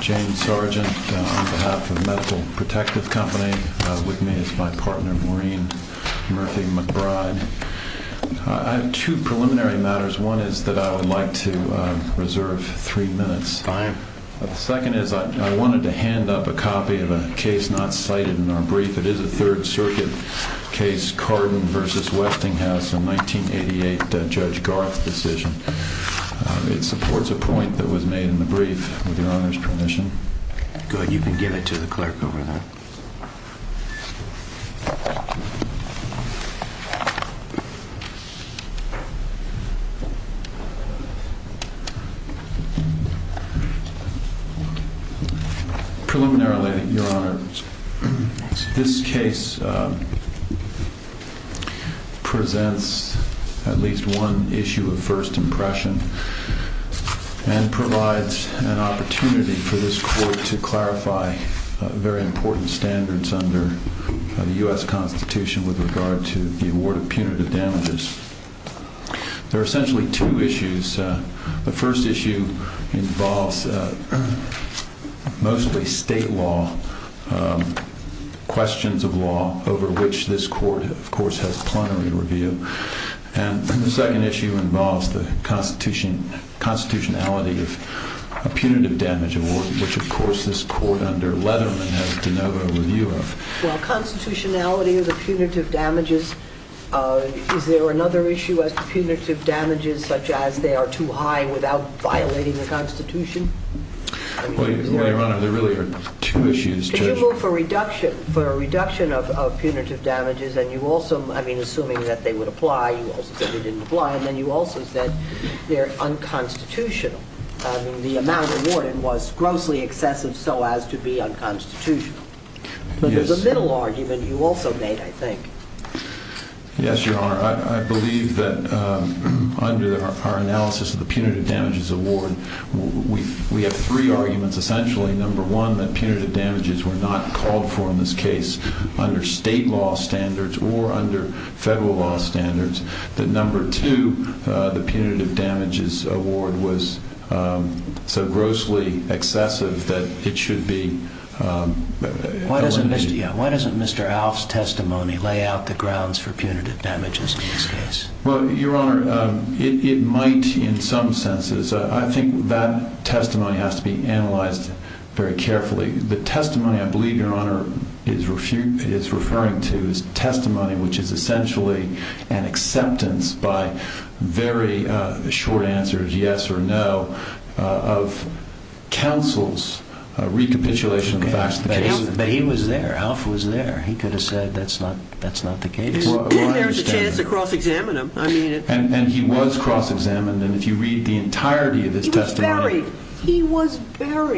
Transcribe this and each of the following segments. James Sargent, on behalf of Medical Protective Company, with me is my partner, Maureen, who is going to talk to us about the case of Murphy McBride. I have two preliminary matters. One is that I would like to reserve three minutes. Fine. The second is I wanted to hand up a copy of a case not cited in our brief. It is a Third Circuit case, Cardin v. Westinghouse, a 1988 Judge Garth decision. It supports a point that was made in the brief, with Your Honor's permission. Go ahead. You can give it to the clerk over there. Preliminarily, Your Honor, this case presents at least one issue of first impression and provides an opportunity for this Court to clarify very important standards under the U.S. Constitution, with respect to the award of punitive damages. There are essentially two issues. The first issue involves mostly state law, questions of law, over which this Court, of course, has plenary review. And the second issue involves the constitutionality of a punitive damage award, which, of course, this Court under Letterman has de novo review of. Well, constitutionality of the punitive damages, is there another issue as to punitive damages such as they are too high without violating the Constitution? Well, Your Honor, there really are two issues. Yes, Your Honor. I believe that under our analysis of the punitive damages award, we have three arguments, essentially. Number one, that punitive damages were not subject to the law. Number two, that punitive damages were not subject to the law. Number three, that punitive damages were not called for in this case under state law standards or under federal law standards. Number two, the punitive damages award was so grossly excessive that it should be eliminated. Why doesn't Mr. Alf's testimony lay out the grounds for punitive damages in this case? Well, Your Honor, it might in some senses. I think that testimony has to be analyzed very carefully. The testimony I believe Your Honor is referring to is testimony which is essentially an acceptance by very short answers, yes or no, of counsel's recapitulation of the facts of the case. But he was there. Alf was there. He could have said that's not the case. There was a chance to cross-examine him. And he was cross-examined. And if you read the entirety of his testimony... He was buried. He was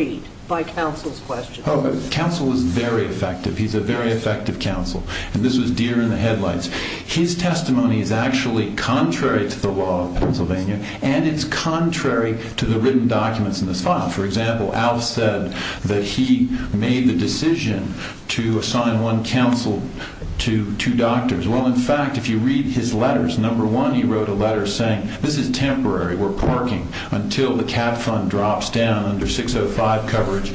buried by counsel's questions. Counsel was very effective. He's a very effective counsel. And this was deer in the headlights. His testimony is actually contrary to the law of Pennsylvania, and it's contrary to the written documents in this file. For example, Alf said that he made the decision to assign one counsel to two doctors. Well, in fact, if you read his letters, number one, he wrote a letter saying this is temporary. We're parking until the cap fund drops down under 605 coverage.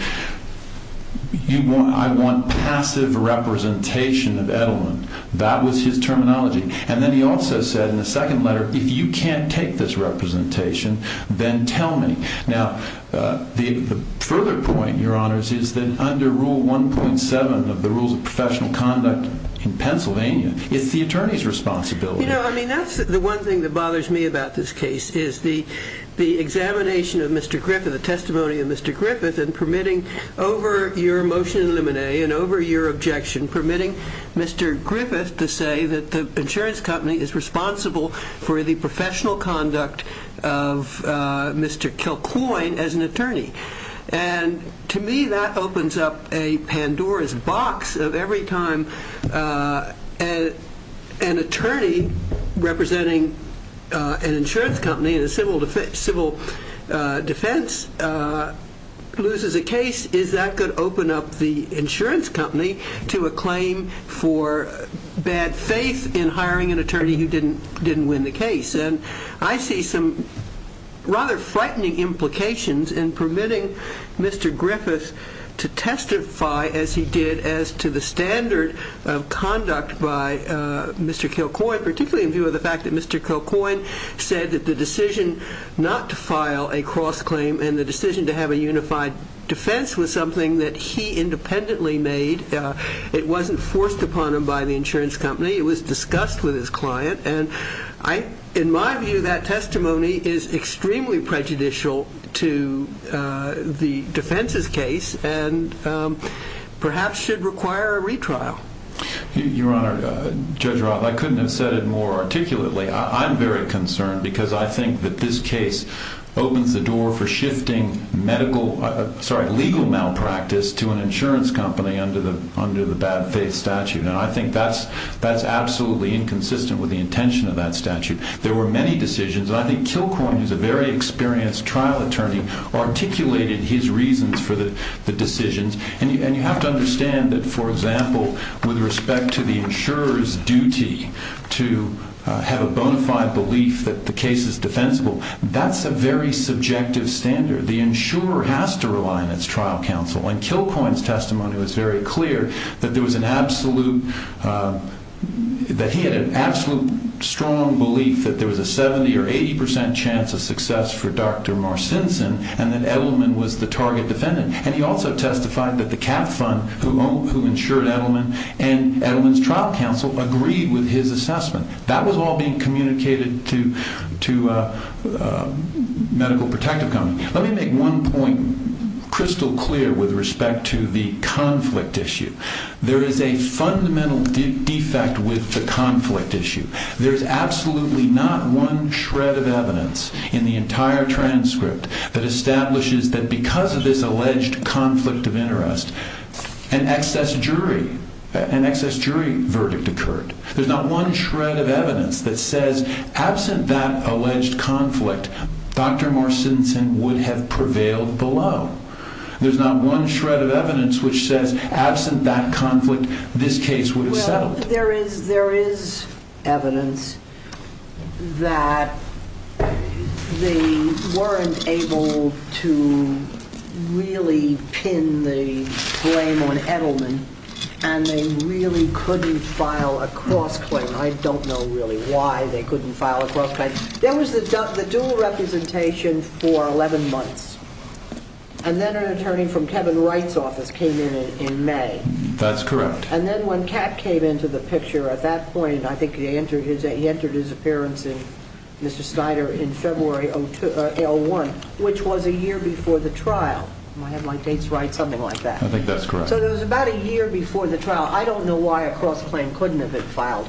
I want passive representation of Edelman. That was his terminology. And then he also said in the second letter, if you can't take this representation, then tell me. Now, the further point, Your Honors, is that under Rule 1.7 of the Rules of Professional Conduct in Pennsylvania, it's the attorney's responsibility. You know, I mean, that's the one thing that bothers me about this case, is the examination of Mr. Griffith, the testimony of Mr. Griffith, and permitting over your motion in limine and over your objection, permitting Mr. Griffith to say that the insurance company is responsible for the professional conduct of Mr. Kilcoyne as an attorney. And to me, that opens up a Pandora's box of every time an attorney representing an insurance company in a civil defense loses a case, is that going to open up the insurance company to a claim for bad faith in hiring an attorney who didn't win the case. And I see some rather frightening implications in permitting Mr. Griffith to testify as he did as to the standard of conduct by Mr. Kilcoyne, particularly in view of the fact that Mr. Kilcoyne said that the decision not to file a cross-claim and the decision to have a unified defense was something that he independently made. It wasn't forced upon him by the insurance company. It was discussed with his client. And in my view, that testimony is extremely prejudicial to the defense's case and perhaps should require a retrial. Your Honor, Judge Roth, I couldn't have said it more articulately. I'm very concerned because I think that this case opens the door for shifting legal malpractice to an insurance company under the bad faith statute. And I think that's absolutely inconsistent with the intention of that statute. There were many decisions, and I think Kilcoyne, who's a very experienced trial attorney, articulated his reasons for the decisions. And you have to understand that, for example, with respect to the insurer's duty to have a bona fide belief that the case is defensible, that's a very subjective standard. The insurer has to rely on its trial counsel. And Kilcoyne's testimony was very clear that there was an absolute – that he had an absolute strong belief that there was a 70 or 80 percent chance of success for Dr. Marcinson and that Edelman was the target defendant. And he also testified that the Cap Fund, who insured Edelman, and Edelman's trial counsel agreed with his assessment. That was all being communicated to a medical protective company. Let me make one point crystal clear with respect to the conflict issue. There is a fundamental defect with the conflict issue. There's absolutely not one shred of evidence in the entire transcript that establishes that because of this alleged conflict of interest, an excess jury verdict occurred. There's not one shred of evidence that says, absent that alleged conflict, Dr. Marcinson would have prevailed below. There's not one shred of evidence which says, absent that conflict, this case would have settled. There is evidence that they weren't able to really pin the blame on Edelman, and they really couldn't file a cross-claim. I don't know really why they couldn't file a cross-claim. There was the dual representation for 11 months, and then an attorney from Kevin Wright's office came in in May. That's correct. And then when Kat came into the picture at that point, I think he entered his appearance in Mr. Snyder in February of 2001, which was a year before the trial. Am I having my dates right? Something like that. I think that's correct. So it was about a year before the trial. I don't know why a cross-claim couldn't have been filed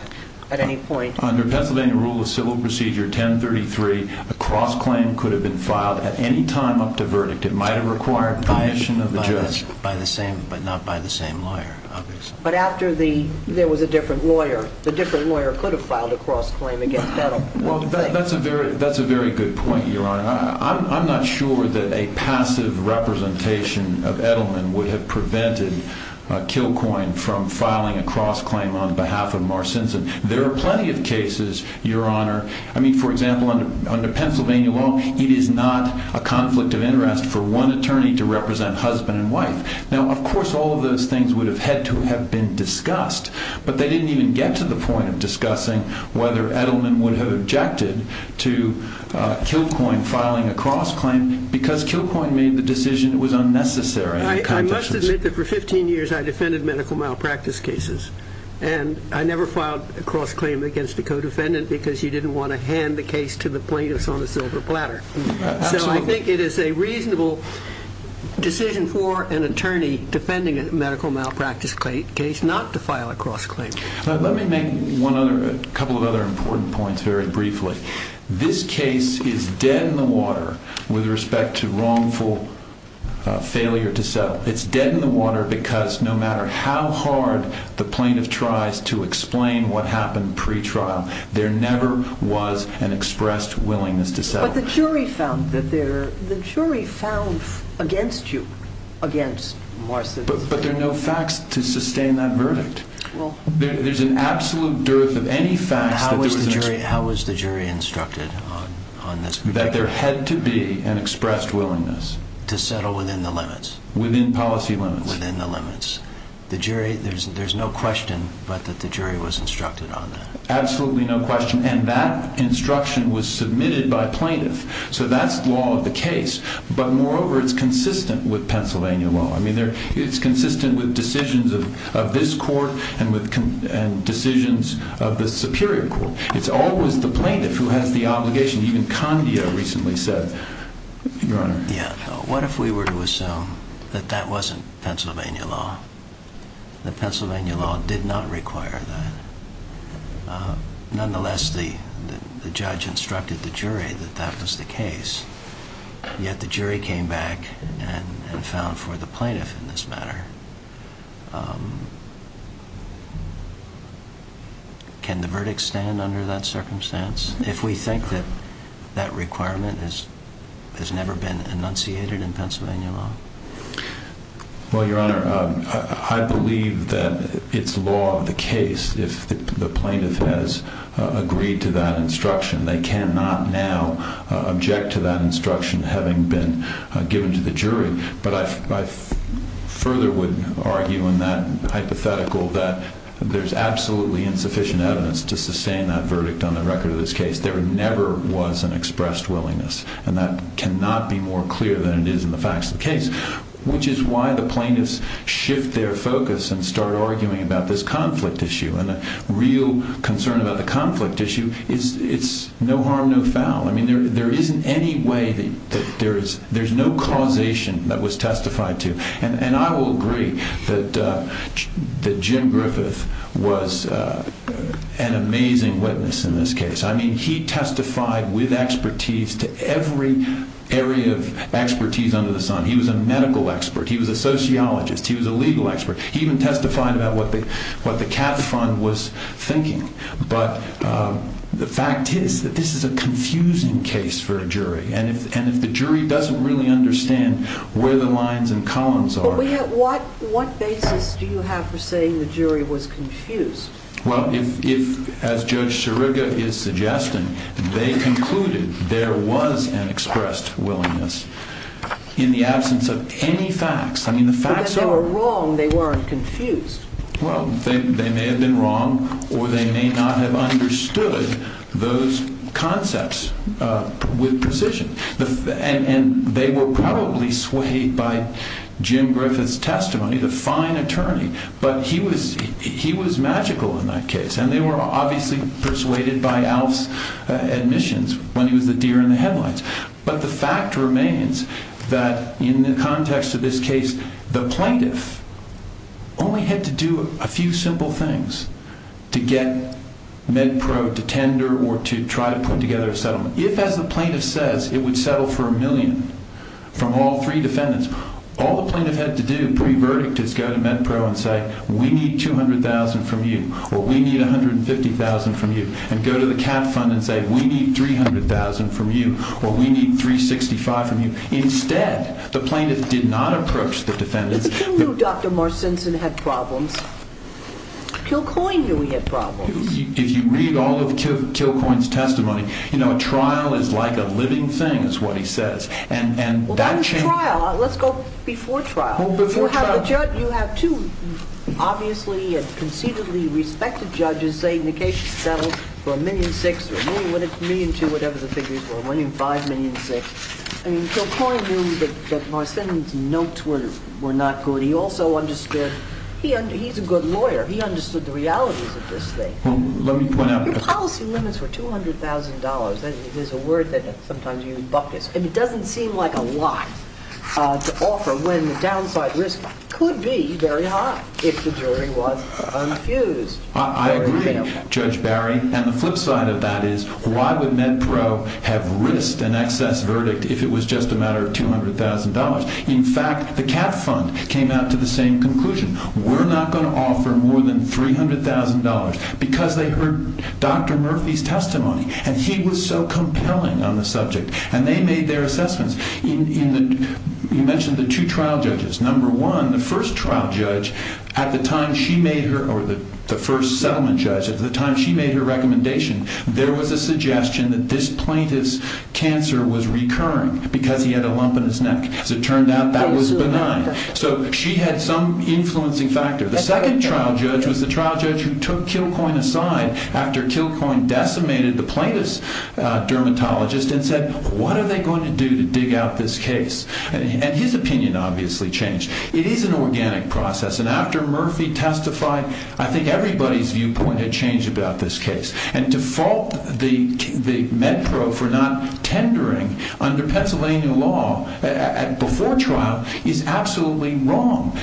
at any point. Under Pennsylvania Rule of Civil Procedure 1033, a cross-claim could have been filed at any time up to verdict. It might have required permission of the judge. But not by the same lawyer, obviously. But after there was a different lawyer, the different lawyer could have filed a cross-claim against Edelman. Well, that's a very good point, Your Honor. I'm not sure that a passive representation of Edelman would have prevented Kilcoyne from filing a cross-claim on behalf of Marcinson. There are plenty of cases, Your Honor. I mean, for example, under Pennsylvania law, it is not a conflict of interest for one attorney to represent husband and wife. Now, of course, all of those things would have had to have been discussed. But they didn't even get to the point of discussing whether Edelman would have objected to Kilcoyne filing a cross-claim because Kilcoyne made the decision it was unnecessary. I must admit that for 15 years I defended medical malpractice cases. And I never filed a cross-claim against a co-defendant because you didn't want to hand the case to the plaintiffs on a silver platter. Absolutely. So I think it is a reasonable decision for an attorney defending a medical malpractice case not to file a cross-claim. Let me make a couple of other important points very briefly. This case is dead in the water with respect to wrongful failure to settle. It is dead in the water because no matter how hard the plaintiff tries to explain what happened pre-trial, there never was an expressed willingness to settle. But the jury found against you, against Marcin. But there are no facts to sustain that verdict. There is an absolute dearth of any facts. How was the jury instructed on this? That there had to be an expressed willingness. To settle within the limits. Within policy limits. Within the limits. There is no question but that the jury was instructed on that. Absolutely no question. And that instruction was submitted by plaintiff. So that is the law of the case. But moreover, it is consistent with Pennsylvania law. It is consistent with decisions of this court and decisions of the Superior Court. It is always the plaintiff who has the obligation. Even Condia recently said, Your Honor. Yeah. What if we were to assume that that wasn't Pennsylvania law? That Pennsylvania law did not require that. Nonetheless, the judge instructed the jury that that was the case. Yet the jury came back and found for the plaintiff in this matter. Can the verdict stand under that circumstance? If we think that that requirement has never been enunciated in Pennsylvania law? Well, Your Honor. I believe that it is law of the case if the plaintiff has agreed to that instruction. They cannot now object to that instruction having been given to the jury. But I further would argue in that hypothetical that there is absolutely insufficient evidence to sustain that verdict on the record of this case. There never was an expressed willingness. And that cannot be more clear than it is in the facts of the case. Which is why the plaintiffs shift their focus and start arguing about this conflict issue. And the real concern about the conflict issue is it's no harm, no foul. I mean, there isn't any way that there is no causation that was testified to. And I will agree that Jim Griffith was an amazing witness in this case. I mean, he testified with expertise to every area of expertise under the sun. He was a medical expert. He was a sociologist. He was a legal expert. He even testified about what the CAT Fund was thinking. And if the jury doesn't really understand where the lines and columns are. But what basis do you have for saying the jury was confused? Well, as Judge Siriga is suggesting, they concluded there was an expressed willingness in the absence of any facts. I mean, the facts are. But if they were wrong, they weren't confused. Well, they may have been wrong or they may not have understood those concepts with precision. And they were probably swayed by Jim Griffith's testimony, the fine attorney. But he was magical in that case. And they were obviously persuaded by Alf's admissions when he was the deer in the headlines. But the fact remains that in the context of this case, the plaintiff only had to do a few simple things to get MedPro to tender or to try to put together a settlement. If, as the plaintiff says, it would settle for a million from all three defendants, all the plaintiff had to do pre-verdict is go to MedPro and say, we need $200,000 from you or we need $150,000 from you. And go to the CAT fund and say, we need $300,000 from you or we need $365,000 from you. Instead, the plaintiff did not approach the defendants. But Kilcoyne knew Dr. Marcinson had problems. Kilcoyne knew he had problems. If you read all of Kilcoyne's testimony, you know, a trial is like a living thing, is what he says. Well, that was trial. Let's go before trial. You have two obviously and concededly respected judges saying the case is settled for a million six or a million two, whatever the figures were, a million five, million six. I mean, Kilcoyne knew that Marcinson's notes were not good. He also understood he's a good lawyer. He understood the realities of this thing. Let me point out. Your policy limits were $200,000. It is a word that sometimes you buck this. And it doesn't seem like a lot to offer when the downside risk could be very high if the jury was unfused. I agree, Judge Barry. And the flip side of that is why would MedPro have risked an excess verdict if it was just a matter of $200,000? In fact, the CAT fund came out to the same conclusion. We're not going to offer more than $300,000 because they heard Dr. Murphy's testimony. And he was so compelling on the subject. And they made their assessments. You mentioned the two trial judges. Number one, the first trial judge at the time she made her or the first settlement judge at the time she made her recommendation, there was a suggestion that this plaintiff's cancer was recurring because he had a lump in his neck. As it turned out, that was benign. So she had some influencing factor. The second trial judge was the trial judge who took Kilcoyne aside after Kilcoyne decimated the plaintiff's dermatologist and said, what are they going to do to dig out this case? And his opinion obviously changed. It is an organic process. And after Murphy testified, I think everybody's viewpoint had changed about this case. And to fault the MedPro for not tendering under Pennsylvania law before trial is absolutely wrong.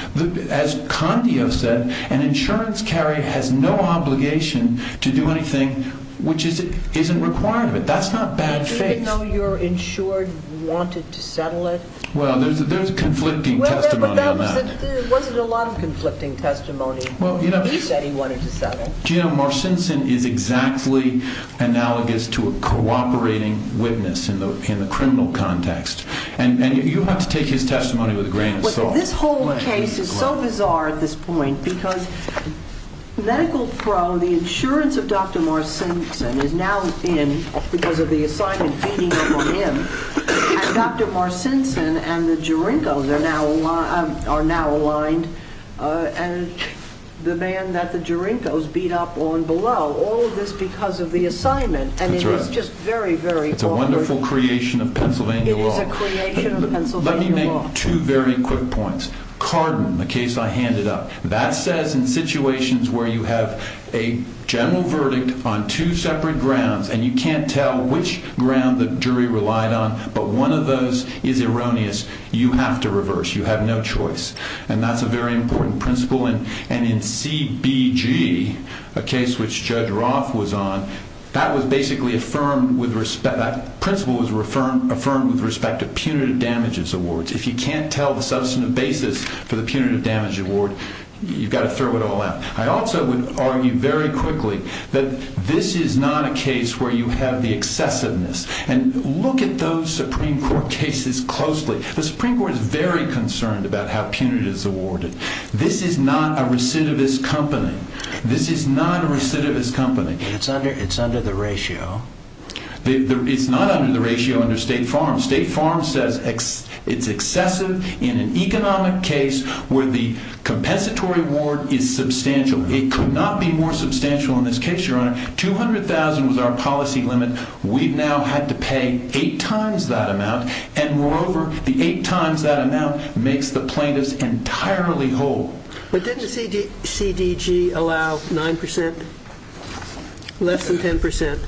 As Condio said, an insurance carrier has no obligation to do anything which isn't required of it. That's not bad faith. Even though your insured wanted to settle it? Well, there's conflicting testimony on that. Wasn't it a lot of conflicting testimony that he wanted to settle? You know, Marcinson is exactly analogous to a cooperating witness in the criminal context. And you have to take his testimony with a grain of salt. This whole case is so bizarre at this point because MedicalPro, the insurance of Dr. Marcinson is now in because of the assignment feeding up on him. And Dr. Marcinson and the Jarenkos are now aligned. And the man that the Jarenkos beat up on below, all of this because of the assignment. And it is just very, very awkward. It's a wonderful creation of Pennsylvania law. It is a creation of Pennsylvania law. Let me make two very quick points. Carden, the case I handed up, that says in situations where you have a general verdict on two separate grounds and you can't tell which ground the jury relied on, but one of those is erroneous. You have to reverse. You have no choice. And that's a very important principle. And in CBG, a case which Judge Roth was on, that principle was affirmed with respect to punitive damages awards. If you can't tell the substantive basis for the punitive damage award, you've got to throw it all out. I also would argue very quickly that this is not a case where you have the excessiveness. And look at those Supreme Court cases closely. The Supreme Court is very concerned about how punitive is awarded. This is not a recidivist company. This is not a recidivist company. It's under the ratio. It's not under the ratio under State Farm. State Farm says it's excessive in an economic case where the compensatory award is substantial. It could not be more substantial in this case, Your Honor. $200,000 was our policy limit. We've now had to pay eight times that amount. And moreover, the eight times that amount makes the plaintiffs entirely whole. But didn't the CDG allow 9%, less than 10%?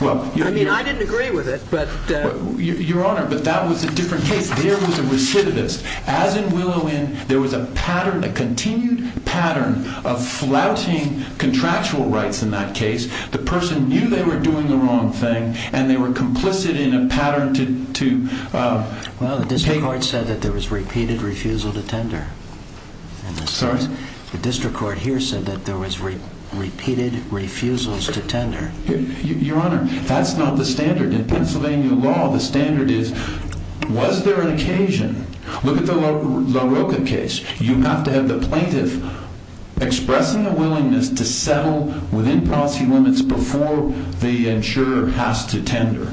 I mean, I didn't agree with it. Your Honor, but that was a different case. There was a recidivist. As in Willow Inn, there was a pattern, a continued pattern of flouting contractual rights in that case. The person knew they were doing the wrong thing, and they were complicit in a pattern to take— Well, the district court said that there was repeated refusal to tender. Sorry? The district court here said that there was repeated refusals to tender. Your Honor, that's not the standard. In Pennsylvania law, the standard is, was there an occasion? Look at the LaRocca case. You have to have the plaintiff expressing a willingness to settle within policy limits before the insurer has to tender.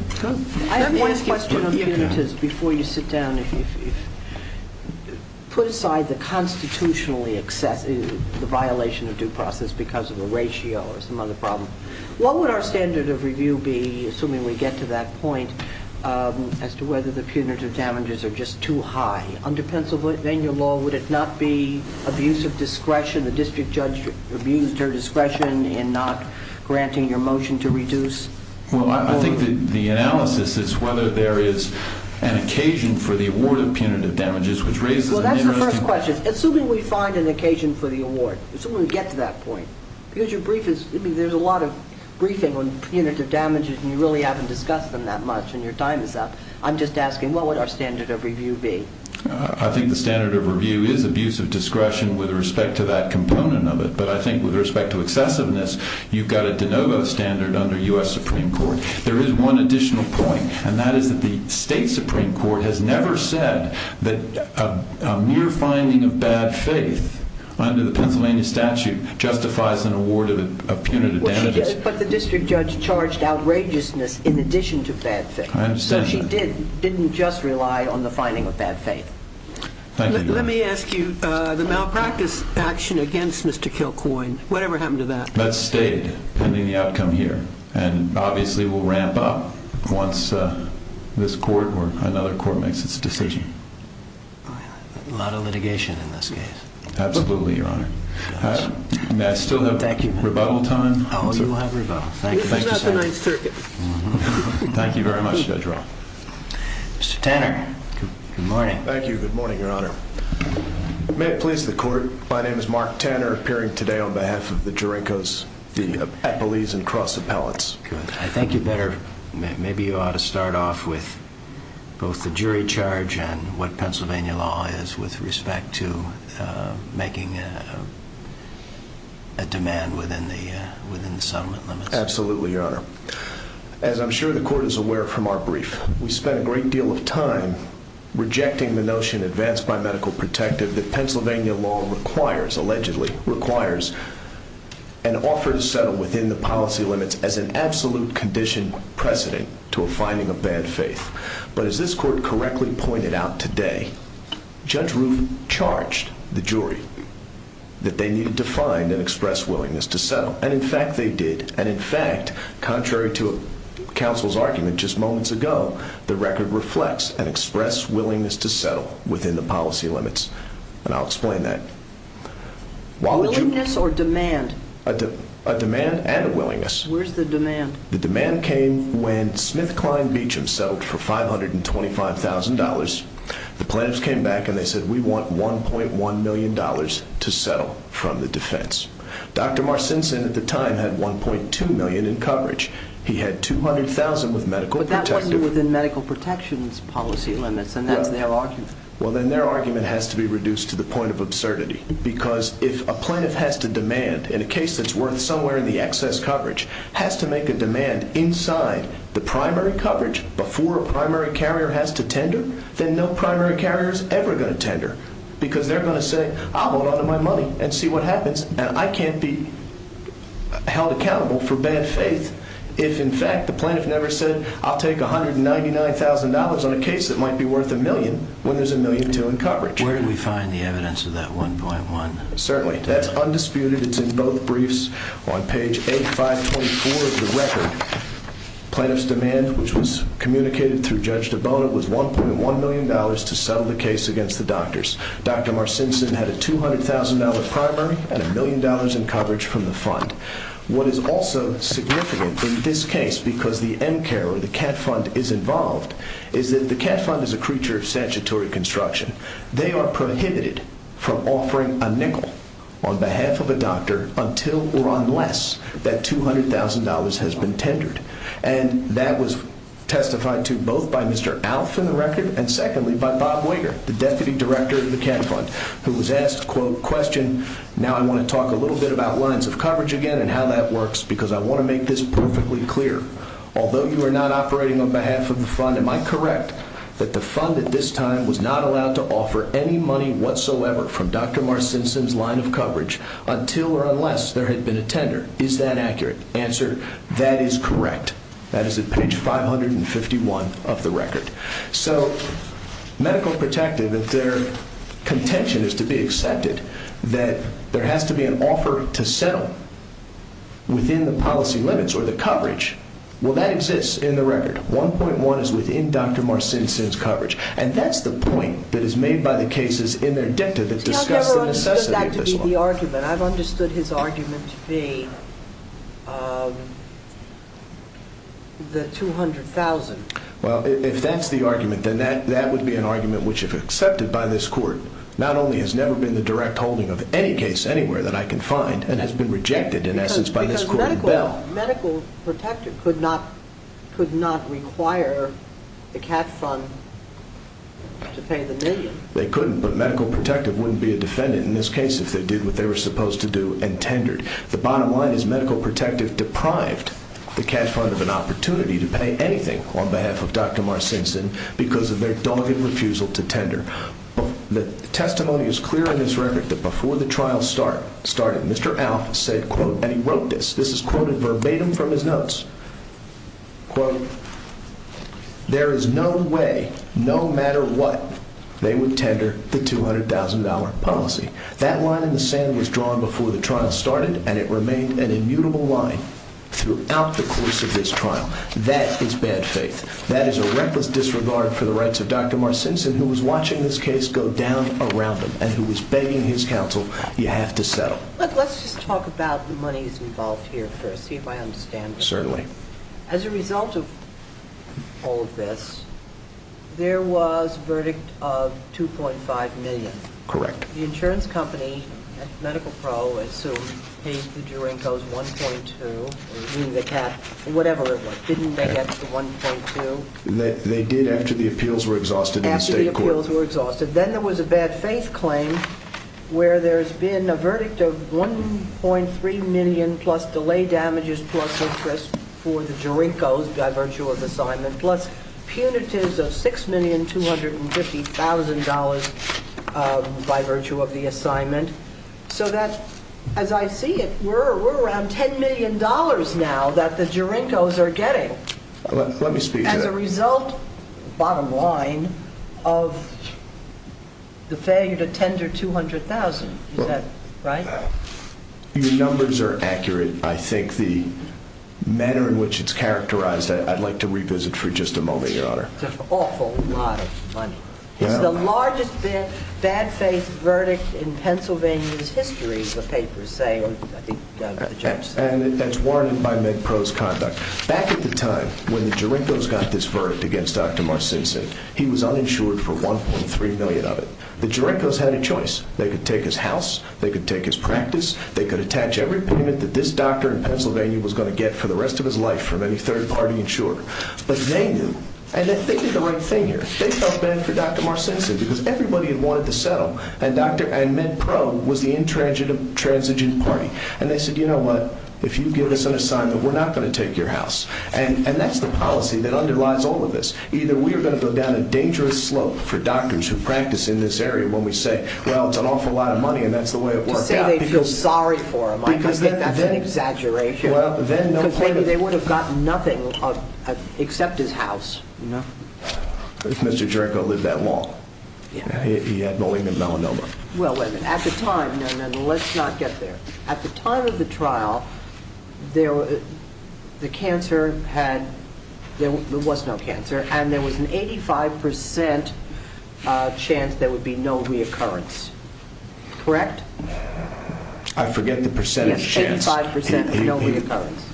I have one question on punitives. Before you sit down, put aside the constitutionally excessive violation of due process because of a ratio or some other problem. What would our standard of review be, assuming we get to that point, as to whether the punitive damages are just too high? Under Pennsylvania law, would it not be abuse of discretion? The district judge abused her discretion in not granting your motion to reduce? Well, I think the analysis is whether there is an occasion for the award of punitive damages, which raises an interesting question. Well, that's the first question. Assuming we find an occasion for the award, assuming we get to that point, because your brief is— I mean, there's a lot of briefing on punitive damages, and you really haven't discussed them that much, and your time is up. I'm just asking, what would our standard of review be? I think the standard of review is abuse of discretion with respect to that component of it. But I think with respect to excessiveness, you've got a de novo standard under U.S. Supreme Court. There is one additional point, and that is that the state Supreme Court has never said that a mere finding of bad faith under the Pennsylvania statute justifies an award of punitive damages. But the district judge charged outrageousness in addition to bad faith. I understand that. So she didn't just rely on the finding of bad faith. Thank you, Your Honor. Let me ask you, the malpractice action against Mr. Kilcoyne, whatever happened to that? That's stated, pending the outcome here. And obviously, we'll ramp up once this court or another court makes its decision. A lot of litigation in this case. Absolutely, Your Honor. May I still have rebuttal time? Oh, you will have rebuttal. This is not the Ninth Circuit. Thank you very much, Judge Roth. Mr. Tanner, good morning. Thank you. Good morning, Your Honor. May it please the court, my name is Mark Tanner, appearing today on behalf of the Jurekos, the Appellees, and Cross Appellants. Good. I think you'd better, maybe you ought to start off with both the jury charge and what Pennsylvania law is with respect to making a demand within the settlement limits. Absolutely, Your Honor. As I'm sure the court is aware from our brief, we spent a great deal of time rejecting the notion advanced by medical protective that Pennsylvania law requires, allegedly, requires an offer to settle within the policy limits as an absolute condition precedent to a finding of bad faith. But as this court correctly pointed out today, Judge Roof charged the jury that they needed to find and express willingness to settle. And, in fact, they did. And, in fact, contrary to counsel's argument just moments ago, the record reflects an express willingness to settle within the policy limits. And I'll explain that. Willingness or demand? A demand and a willingness. Where's the demand? The demand came when SmithKline Beacham settled for $525,000. The plaintiffs came back and they said, we want $1.1 million to settle from the defense. Dr. Marcinson, at the time, had $1.2 million in coverage. He had $200,000 with medical protective. But that wasn't within medical protection's policy limits, and that's their argument. Well, then their argument has to be reduced to the point of absurdity. Because if a plaintiff has to demand, in a case that's worth somewhere in the excess coverage, has to make a demand inside the primary coverage before a primary carrier has to tender, then no primary carrier is ever going to tender. Because they're going to say, I'll hold on to my money and see what happens. And I can't be held accountable for bad faith if, in fact, the plaintiff never said, I'll take $199,000 on a case that might be worth a million when there's $1.2 million in coverage. Where do we find the evidence of that $1.1 million? Certainly. That's undisputed. It's in both briefs. On page 8524 of the record, plaintiff's demand, which was communicated through Judge DeBone, was $1.1 million to settle the case against the doctors. Dr. Marcinson had a $200,000 primary and $1 million in coverage from the fund. What is also significant in this case, because the MCARE or the CAT Fund is involved, is that the CAT Fund is a creature of statutory construction. They are prohibited from offering a nickel on behalf of a doctor until or unless that $200,000 has been tendered. And that was testified to both by Mr. Alf in the record and secondly by Bob Wager, the deputy director of the CAT Fund, who was asked, quote, question. Now I want to talk a little bit about lines of coverage again and how that works because I want to make this perfectly clear. Although you are not operating on behalf of the fund, am I correct that the fund at this time was not allowed to offer any money whatsoever from Dr. Marcinson's line of coverage until or unless there had been a tender? Is that accurate? Answer, that is correct. That is at page 551 of the record. So Medical Protective, if their contention is to be accepted that there has to be an offer to settle within the policy limits or the coverage, well, that exists in the record. $1.1 is within Dr. Marcinson's coverage. And that's the point that is made by the cases in their dicta that discuss the necessity of this law. That's the argument. I've understood his argument to be the $200,000. Well, if that's the argument, then that would be an argument which, if accepted by this court, not only has never been the direct holding of any case anywhere that I can find and has been rejected, in essence, by this court and Bell. Because Medical Protective could not require the CAT Fund to pay the million. They couldn't, but Medical Protective wouldn't be a defendant in this case if they did what they were supposed to do and tendered. The bottom line is Medical Protective deprived the CAT Fund of an opportunity to pay anything on behalf of Dr. Marcinson because of their dogged refusal to tender. The testimony is clear in this record that before the trial started, Mr. Alf said, and he wrote this, this is quoted verbatim from his notes, quote, there is no way, no matter what, they would tender the $200,000 policy. That line in the sand was drawn before the trial started, and it remained an immutable line throughout the course of this trial. That is bad faith. That is a reckless disregard for the rights of Dr. Marcinson, who was watching this case go down around him and who was begging his counsel, you have to settle. Let's just talk about the monies involved here first, see if I understand. Certainly. As a result of all of this, there was a verdict of $2.5 million. Correct. The insurance company, Medical Pro, assumed paid the Durankos $1.2, meaning the CAT, whatever it was. Didn't they get the $1.2? They did after the appeals were exhausted in the state court. Then there was a bad faith claim where there's been a verdict of $1.3 million plus delay damages plus interest for the Durankos by virtue of assignment, plus punitives of $6,250,000 by virtue of the assignment. So that, as I see it, we're around $10 million now that the Durankos are getting. Let me speak to that. As a result, bottom line, of the failure to tender $200,000, is that right? Your numbers are accurate. I think the manner in which it's characterized, I'd like to revisit for just a moment, Your Honor. It's an awful lot of money. It's the largest bad faith verdict in Pennsylvania's history, the papers say, or I think the judge said. That's warranted by MedPro's conduct. Back at the time when the Durankos got this verdict against Dr. Marcinson, he was uninsured for $1.3 million of it. The Durankos had a choice. They could take his house. They could take his practice. They could attach every payment that this doctor in Pennsylvania was going to get for the rest of his life from any third-party insurer. But they knew, and they did the right thing here. They felt bad for Dr. Marcinson because everybody had wanted to settle, and MedPro was the intransigent party. And they said, you know what, if you give us an assignment, we're not going to take your house. And that's the policy that underlies all of this. Either we are going to go down a dangerous slope for doctors who practice in this area when we say, well, it's an awful lot of money, and that's the way it worked out. To say they feel sorry for him, I think that's an exaggeration. Well, then no point of – Because maybe they would have gotten nothing except his house. Mr. Duranko lived that long. He had mulling and melanoma. Well, wait a minute. At the time – no, no, no, let's not get there. At the time of the trial, the cancer had – there was no cancer, and there was an 85% chance there would be no reoccurrence. Correct? I forget the percentage chance. Yes, 85% no reoccurrence.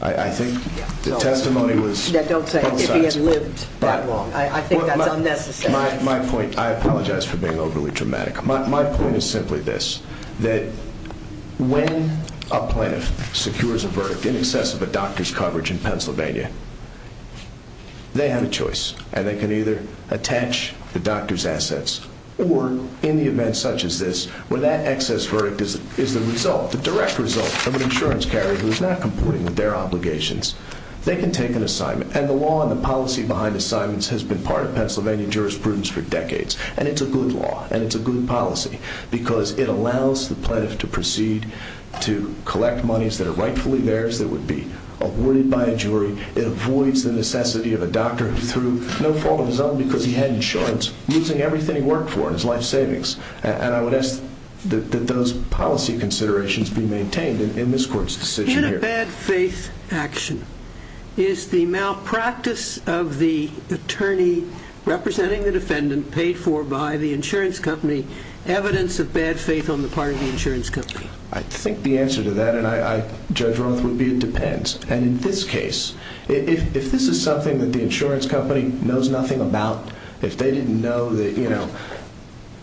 I think the testimony was both sides. Don't say if he had lived that long. I think that's unnecessary. My point – I apologize for being overly dramatic. My point is simply this, that when a plaintiff secures a verdict in excess of a doctor's coverage in Pennsylvania, they have a choice, and they can either attach the doctor's assets or, in the event such as this, where that excess verdict is the result, the direct result of an insurance carrier who is not complying with their obligations, they can take an assignment. And the law and the policy behind assignments has been part of Pennsylvania jurisprudence for decades. And it's a good law, and it's a good policy, because it allows the plaintiff to proceed to collect monies that are rightfully theirs, that would be awarded by a jury. It avoids the necessity of a doctor who threw no fault of his own because he had insurance, losing everything he worked for in his life savings. And I would ask that those policy considerations be maintained in this court's decision here. Bad faith action. Is the malpractice of the attorney representing the defendant paid for by the insurance company evidence of bad faith on the part of the insurance company? I think the answer to that, Judge Roth, would be it depends. And in this case, if this is something that the insurance company knows nothing about, if they didn't know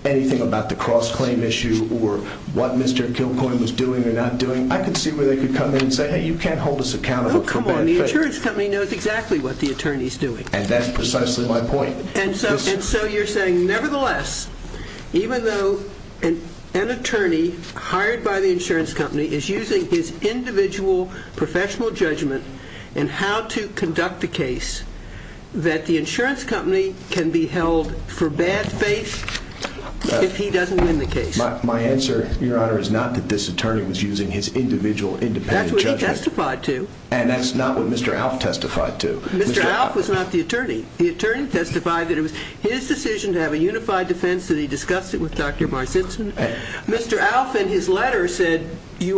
anything about the cross-claim issue or what Mr. Kilcoyne was doing or not doing, I could see where they could come in and say, hey, you can't hold us accountable for bad faith. No, come on. The insurance company knows exactly what the attorney's doing. And that's precisely my point. And so you're saying, nevertheless, even though an attorney hired by the insurance company is using his individual professional judgment in how to conduct a case, that the insurance company can be held for bad faith if he doesn't win the case? My answer, Your Honor, is not that this attorney was using his individual independent judgment. That's what he testified to. And that's not what Mr. Alf testified to. Mr. Alf was not the attorney. The attorney testified that it was his decision to have a unified defense, that he discussed it with Dr. Marcinson. Mr. Alf, in his letter, said to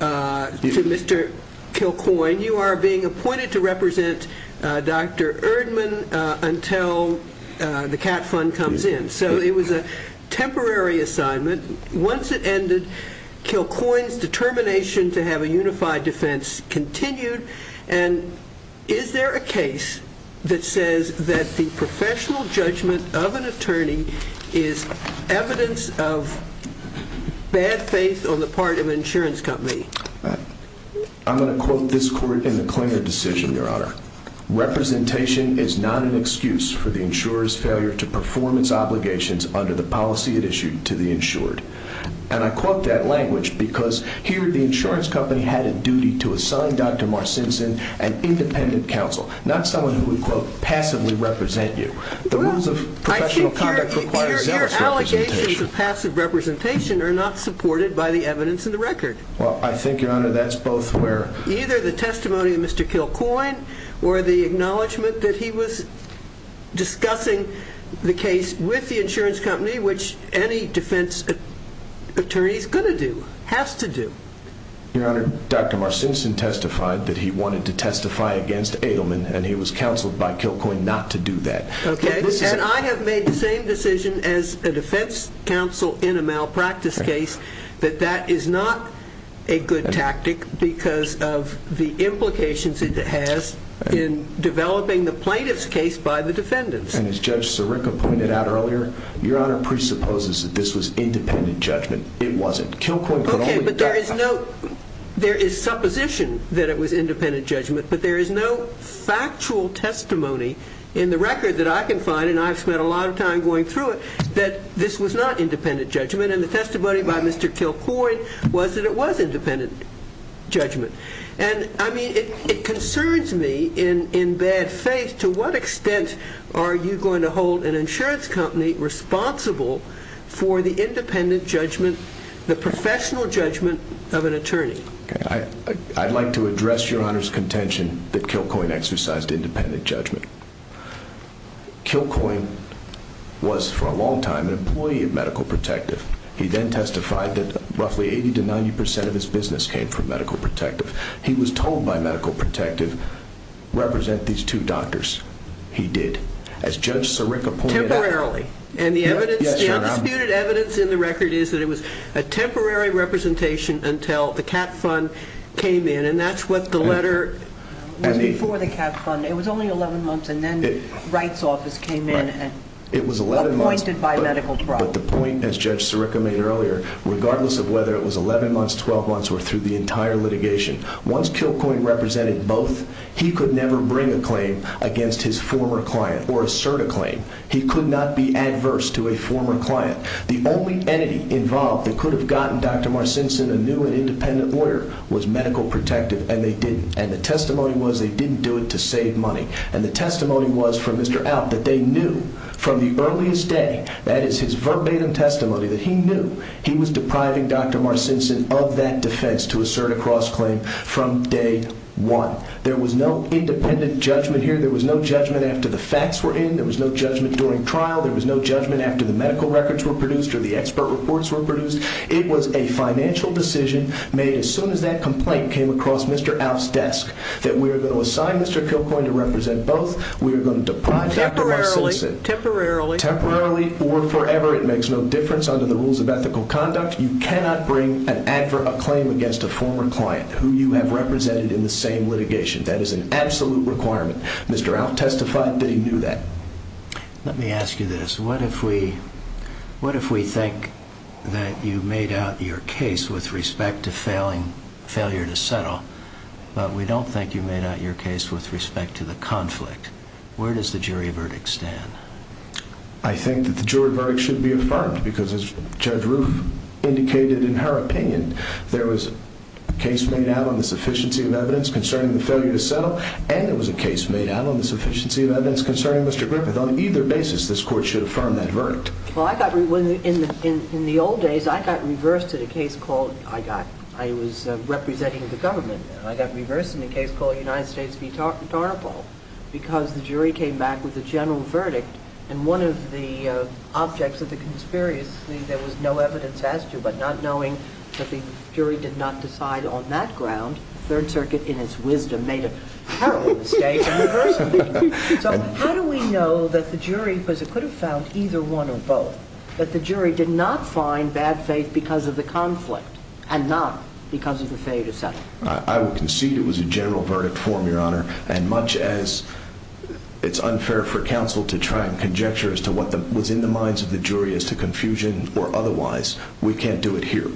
Mr. Kilcoyne, you are being appointed to represent Dr. Erdmann until the CAT fund comes in. So it was a temporary assignment. Once it ended, Kilcoyne's determination to have a unified defense continued. And is there a case that says that the professional judgment of an attorney is evidence of bad faith on the part of an insurance company? I'm going to quote this court in the Klinger decision, Your Honor. Representation is not an excuse for the insurer's failure to perform its obligations under the policy it issued to the insured. And I quote that language because here the insurance company had a duty to assign Dr. Marcinson an independent counsel, not someone who would, quote, passively represent you. The rules of professional conduct require zealous representation. Your allegations of passive representation are not supported by the evidence in the record. Well, I think, Your Honor, that's both where... Or the acknowledgment that he was discussing the case with the insurance company, which any defense attorney is going to do, has to do. Your Honor, Dr. Marcinson testified that he wanted to testify against Edelman, and he was counseled by Kilcoyne not to do that. Okay, and I have made the same decision as a defense counsel in a malpractice case, that that is not a good tactic because of the implications it has in developing the plaintiff's case by the defendants. And as Judge Sirica pointed out earlier, Your Honor presupposes that this was independent judgment. It wasn't. Okay, but there is supposition that it was independent judgment, but there is no factual testimony in the record that I can find, and I have spent a lot of time going through it, that this was not independent judgment, and the testimony by Mr. Kilcoyne was that it was independent judgment. And, I mean, it concerns me, in bad faith, to what extent are you going to hold an insurance company responsible for the independent judgment, the professional judgment of an attorney? I'd like to address Your Honor's contention that Kilcoyne exercised independent judgment. Kilcoyne was, for a long time, an employee of Medical Protective. He then testified that roughly 80 to 90 percent of his business came from Medical Protective. He was told by Medical Protective, represent these two doctors. He did. As Judge Sirica pointed out— Temporarily. And the evidence, the undisputed evidence in the record is that it was a temporary representation until the cap fund came in, and that's what the letter— It was before the cap fund. It was only 11 months, and then Wright's office came in and appointed by Medical Protective. The point, as Judge Sirica made earlier, regardless of whether it was 11 months, 12 months, or through the entire litigation, once Kilcoyne represented both, he could never bring a claim against his former client or assert a claim. He could not be adverse to a former client. The only entity involved that could have gotten Dr. Marcinson a new and independent lawyer was Medical Protective, and they didn't. And the testimony was they didn't do it to save money. And the testimony was from Mr. Alf that they knew from the earliest day, that is his verbatim testimony, that he knew he was depriving Dr. Marcinson of that defense to assert a cross-claim from day one. There was no independent judgment here. There was no judgment after the facts were in. There was no judgment during trial. There was no judgment after the medical records were produced or the expert reports were produced. It was a financial decision made as soon as that complaint came across Mr. Alf's desk that we are going to assign Mr. Kilcoyne to represent both. We are going to deprive Dr. Marcinson. Temporarily. Temporarily. Temporarily or forever. It makes no difference under the rules of ethical conduct. You cannot bring a claim against a former client who you have represented in the same litigation. That is an absolute requirement. Mr. Alf testified that he knew that. Let me ask you this. What if we think that you made out your case with respect to failure to settle, but we don't think you made out your case with respect to the conflict? Where does the jury verdict stand? I think that the jury verdict should be affirmed because as Judge Roof indicated in her opinion, there was a case made out on the sufficiency of evidence concerning the failure to settle and there was a case made out on the sufficiency of evidence concerning Mr. Griffith. On either basis, this court should affirm that verdict. In the old days, I got reversed in a case called, I was representing the government. I got reversed in a case called United States v. Tarnapol because the jury came back with a general verdict and one of the objects of the conspiracy, there was no evidence as to, but not knowing that the jury did not decide on that ground, Third Circuit in its wisdom made a terrible mistake in reversing it. How do we know that the jury, because it could have found either one or both, that the jury did not find bad faith because of the conflict and not because of the failure to settle? I would concede it was a general verdict form, Your Honor, and much as it's unfair for counsel to try and conjecture as to what was in the minds of the jury as to confusion or otherwise, we can't do it here.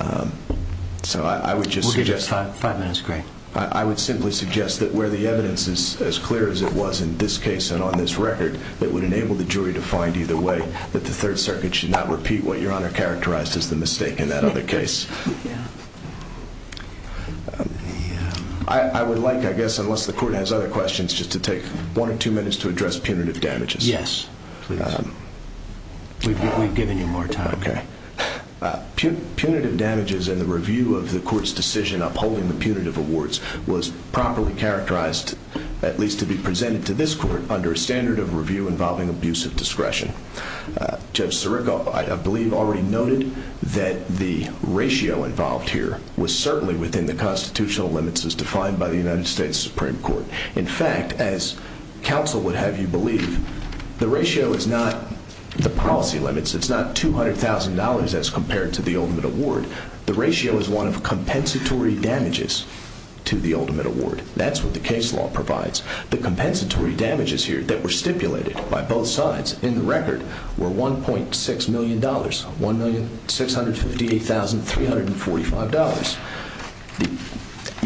We'll give you five minutes, Greg. I would simply suggest that where the evidence is as clear as it was in this case and on this record, it would enable the jury to find either way that the Third Circuit should not repeat what Your Honor characterized as the mistake in that other case. I would like, I guess, unless the court has other questions, just to take one or two minutes to address punitive damages. Yes, please. We've given you more time. Okay. Punitive damages in the review of the court's decision upholding the punitive awards was properly characterized, at least to be presented to this court, under a standard of review involving abusive discretion. Judge Sirico, I believe, already noted that the ratio involved here was certainly within the constitutional limits as defined by the United States Supreme Court. In fact, as counsel would have you believe, the ratio is not the policy limits. It's not $200,000 as compared to the ultimate award. The ratio is one of compensatory damages to the ultimate award. That's what the case law provides. The compensatory damages here that were stipulated by both sides in the record were $1.6 million, $1,658,345.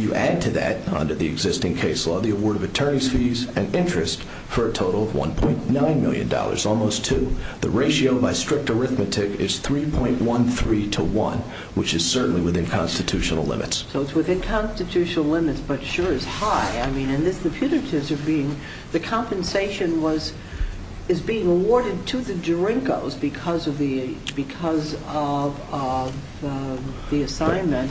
You add to that, under the existing case law, the award of attorney's fees and interest for a total of $1.9 million, almost two. The ratio by strict arithmetic is 3.13 to one, which is certainly within constitutional limits. So it's within constitutional limits but sure is high. And the punitives are being, the compensation is being awarded to the drinkers because of the assignment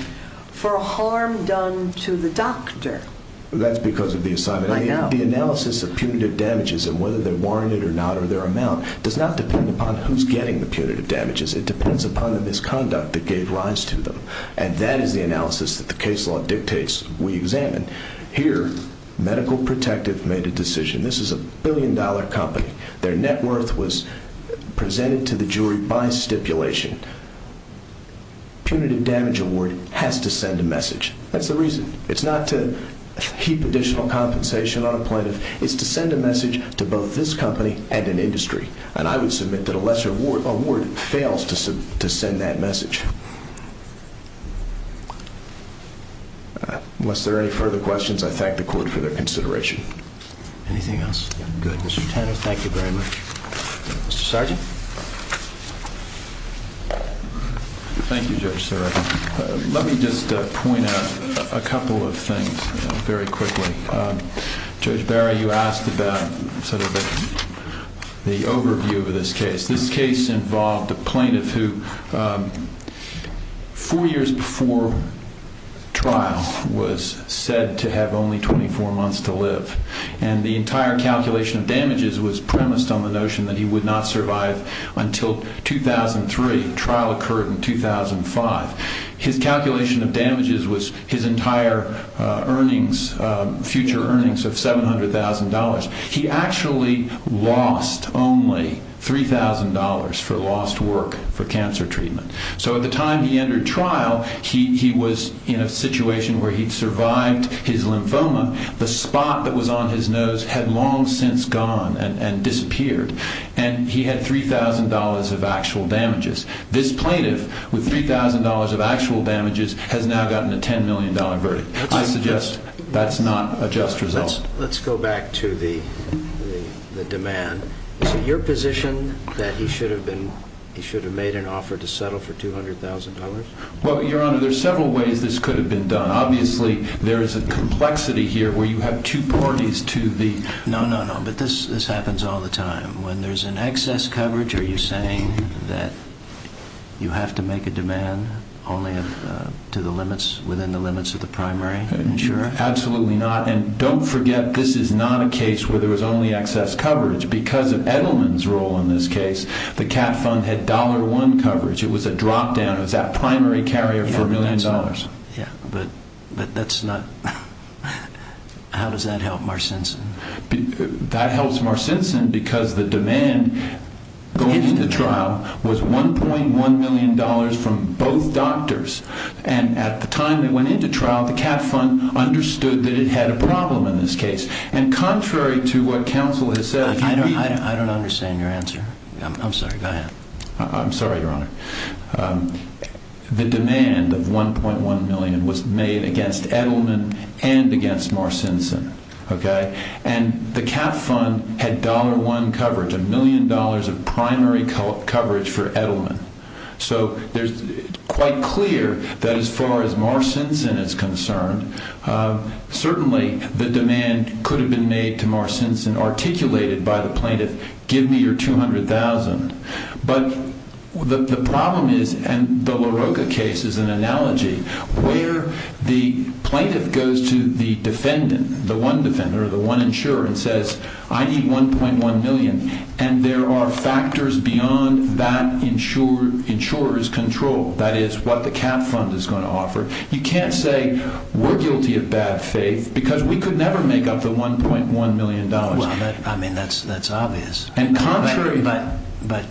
for harm done to the doctor. That's because of the assignment. The analysis of punitive damages and whether they're warranted or not or their amount does not depend upon who's getting the punitive damages. It depends upon the misconduct that gave rise to them. And that is the analysis that the case law dictates we examine. Here, Medical Protective made a decision. This is a billion-dollar company. Their net worth was presented to the jury by stipulation. Punitive damage award has to send a message. That's the reason. It's not to heap additional compensation on a plaintiff. It's to send a message to both this company and an industry. And I would submit that a lesser award fails to send that message. Unless there are any further questions, I thank the court for their consideration. Anything else? Good. Mr. Tanner, thank you very much. Mr. Sergeant? Thank you, Judge Serra. Let me just point out a couple of things very quickly. Judge Barry, you asked about sort of the overview of this case. This case involved a plaintiff who four years before trial was said to have only 24 months to live. And the entire calculation of damages was premised on the notion that he would not survive until 2003. The trial occurred in 2005. His calculation of damages was his entire earnings, future earnings of $700,000. He actually lost only $3,000 for lost work for cancer treatment. So at the time he entered trial, he was in a situation where he'd survived his lymphoma. The spot that was on his nose had long since gone and disappeared. And he had $3,000 of actual damages. This plaintiff, with $3,000 of actual damages, has now gotten a $10 million verdict. I suggest that's not a just result. Let's go back to the demand. Is it your position that he should have made an offer to settle for $200,000? Well, Your Honor, there are several ways this could have been done. Obviously, there is a complexity here where you have two parties to the— No, no, no, but this happens all the time. When there's an excess coverage, are you saying that you have to make a demand only to the limits, within the limits of the primary insurer? Absolutely not. And don't forget, this is not a case where there was only excess coverage. Because of Edelman's role in this case, the CAT Fund had $1 coverage. It was a drop-down. It was that primary carrier for $1 million. Yeah, but that's not—how does that help Marcincin? That helps Marcincin because the demand going into trial was $1.1 million from both doctors. And at the time they went into trial, the CAT Fund understood that it had a problem in this case. And contrary to what counsel has said— I don't understand your answer. I'm sorry. Go ahead. I'm sorry, Your Honor. The demand of $1.1 million was made against Edelman and against Marcincin. And the CAT Fund had $1 coverage, a million dollars of primary coverage for Edelman. So it's quite clear that as far as Marcincin is concerned, certainly the demand could have been made to Marcincin, articulated by the plaintiff, give me your $200,000. But the problem is—and the LaRocca case is an analogy— where the plaintiff goes to the defendant, the one defendant or the one insurer, and says, I need $1.1 million. And there are factors beyond that insurer's control. That is, what the CAT Fund is going to offer. You can't say we're guilty of bad faith because we could never make up the $1.1 million. Well, I mean, that's obvious. And contrary— But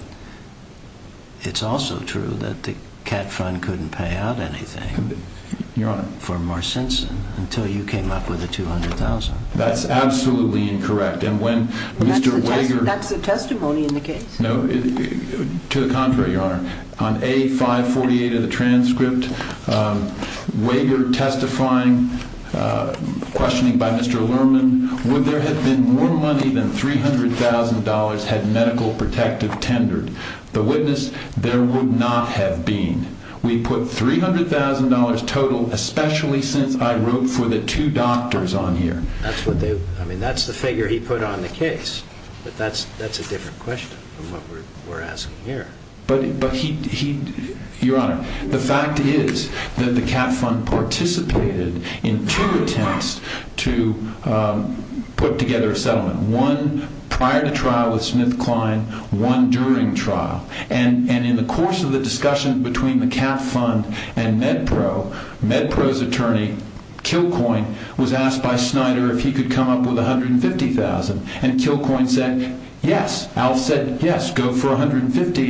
it's also true that the CAT Fund couldn't pay out anything for Marcincin until you came up with the $200,000. That's absolutely incorrect. And when Mr. Wager— That's the testimony in the case. No, to the contrary, Your Honor. On A548 of the transcript, Wager testifying, questioning by Mr. Lerman, would there have been more money than $300,000 had medical protective tendered? The witness, there would not have been. We put $300,000 total, especially since I wrote for the two doctors on here. I mean, that's the figure he put on the case. But that's a different question from what we're asking here. But, Your Honor, the fact is that the CAT Fund participated in two attempts to put together a settlement, one prior to trial with SmithKline, one during trial. And in the course of the discussion between the CAT Fund and MedPro, MedPro's attorney, Kilcoyne, was asked by Snyder if he could come up with $150,000. And Kilcoyne said, yes. Alf said, yes, go for $150,000.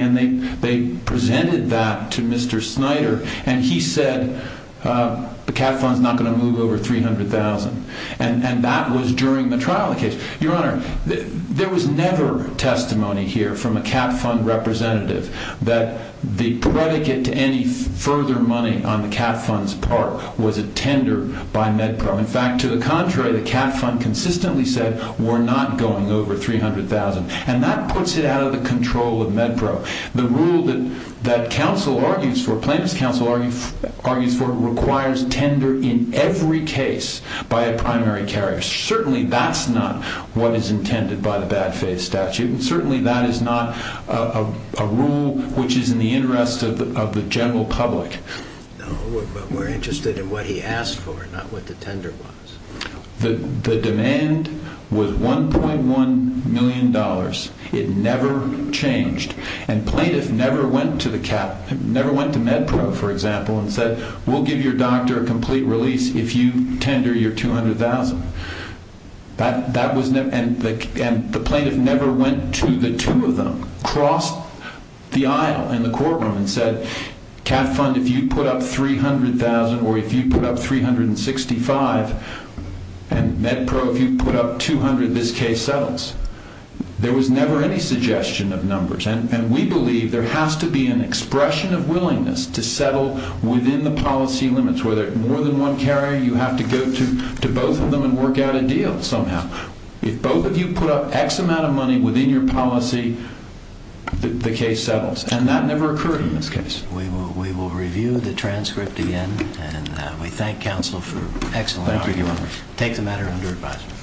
And they presented that to Mr. Snyder. And he said, the CAT Fund's not going to move over $300,000. And that was during the trial of the case. Your Honor, there was never testimony here from a CAT Fund representative that the predicate to any further money on the CAT Fund's part was a tender by MedPro. In fact, to the contrary, the CAT Fund consistently said, we're not going over $300,000. And that puts it out of the control of MedPro. The rule that counsel argues for, plaintiff's counsel argues for, requires tender in every case by a primary carrier. Certainly that's not what is intended by the bad faith statute. Certainly that is not a rule which is in the interest of the general public. No, but we're interested in what he asked for, not what the tender was. The demand was $1.1 million. It never changed. And plaintiff never went to MedPro, for example, and said, we'll give your doctor a complete release if you tender your $200,000. And the plaintiff never went to the two of them, crossed the aisle in the courtroom and said, CAT Fund, if you put up $300,000 or if you put up $365,000 and MedPro, if you put up $200,000, this case settles. There was never any suggestion of numbers. And we believe there has to be an expression of willingness to settle within the policy limits. Whether more than one carrier, you have to go to both of them and work out a deal somehow. If both of you put up X amount of money within your policy, the case settles. And that never occurred in this case. We will review the transcript again, and we thank counsel for excellent work. Thank you very much. Take the matter under advisement. Thank you.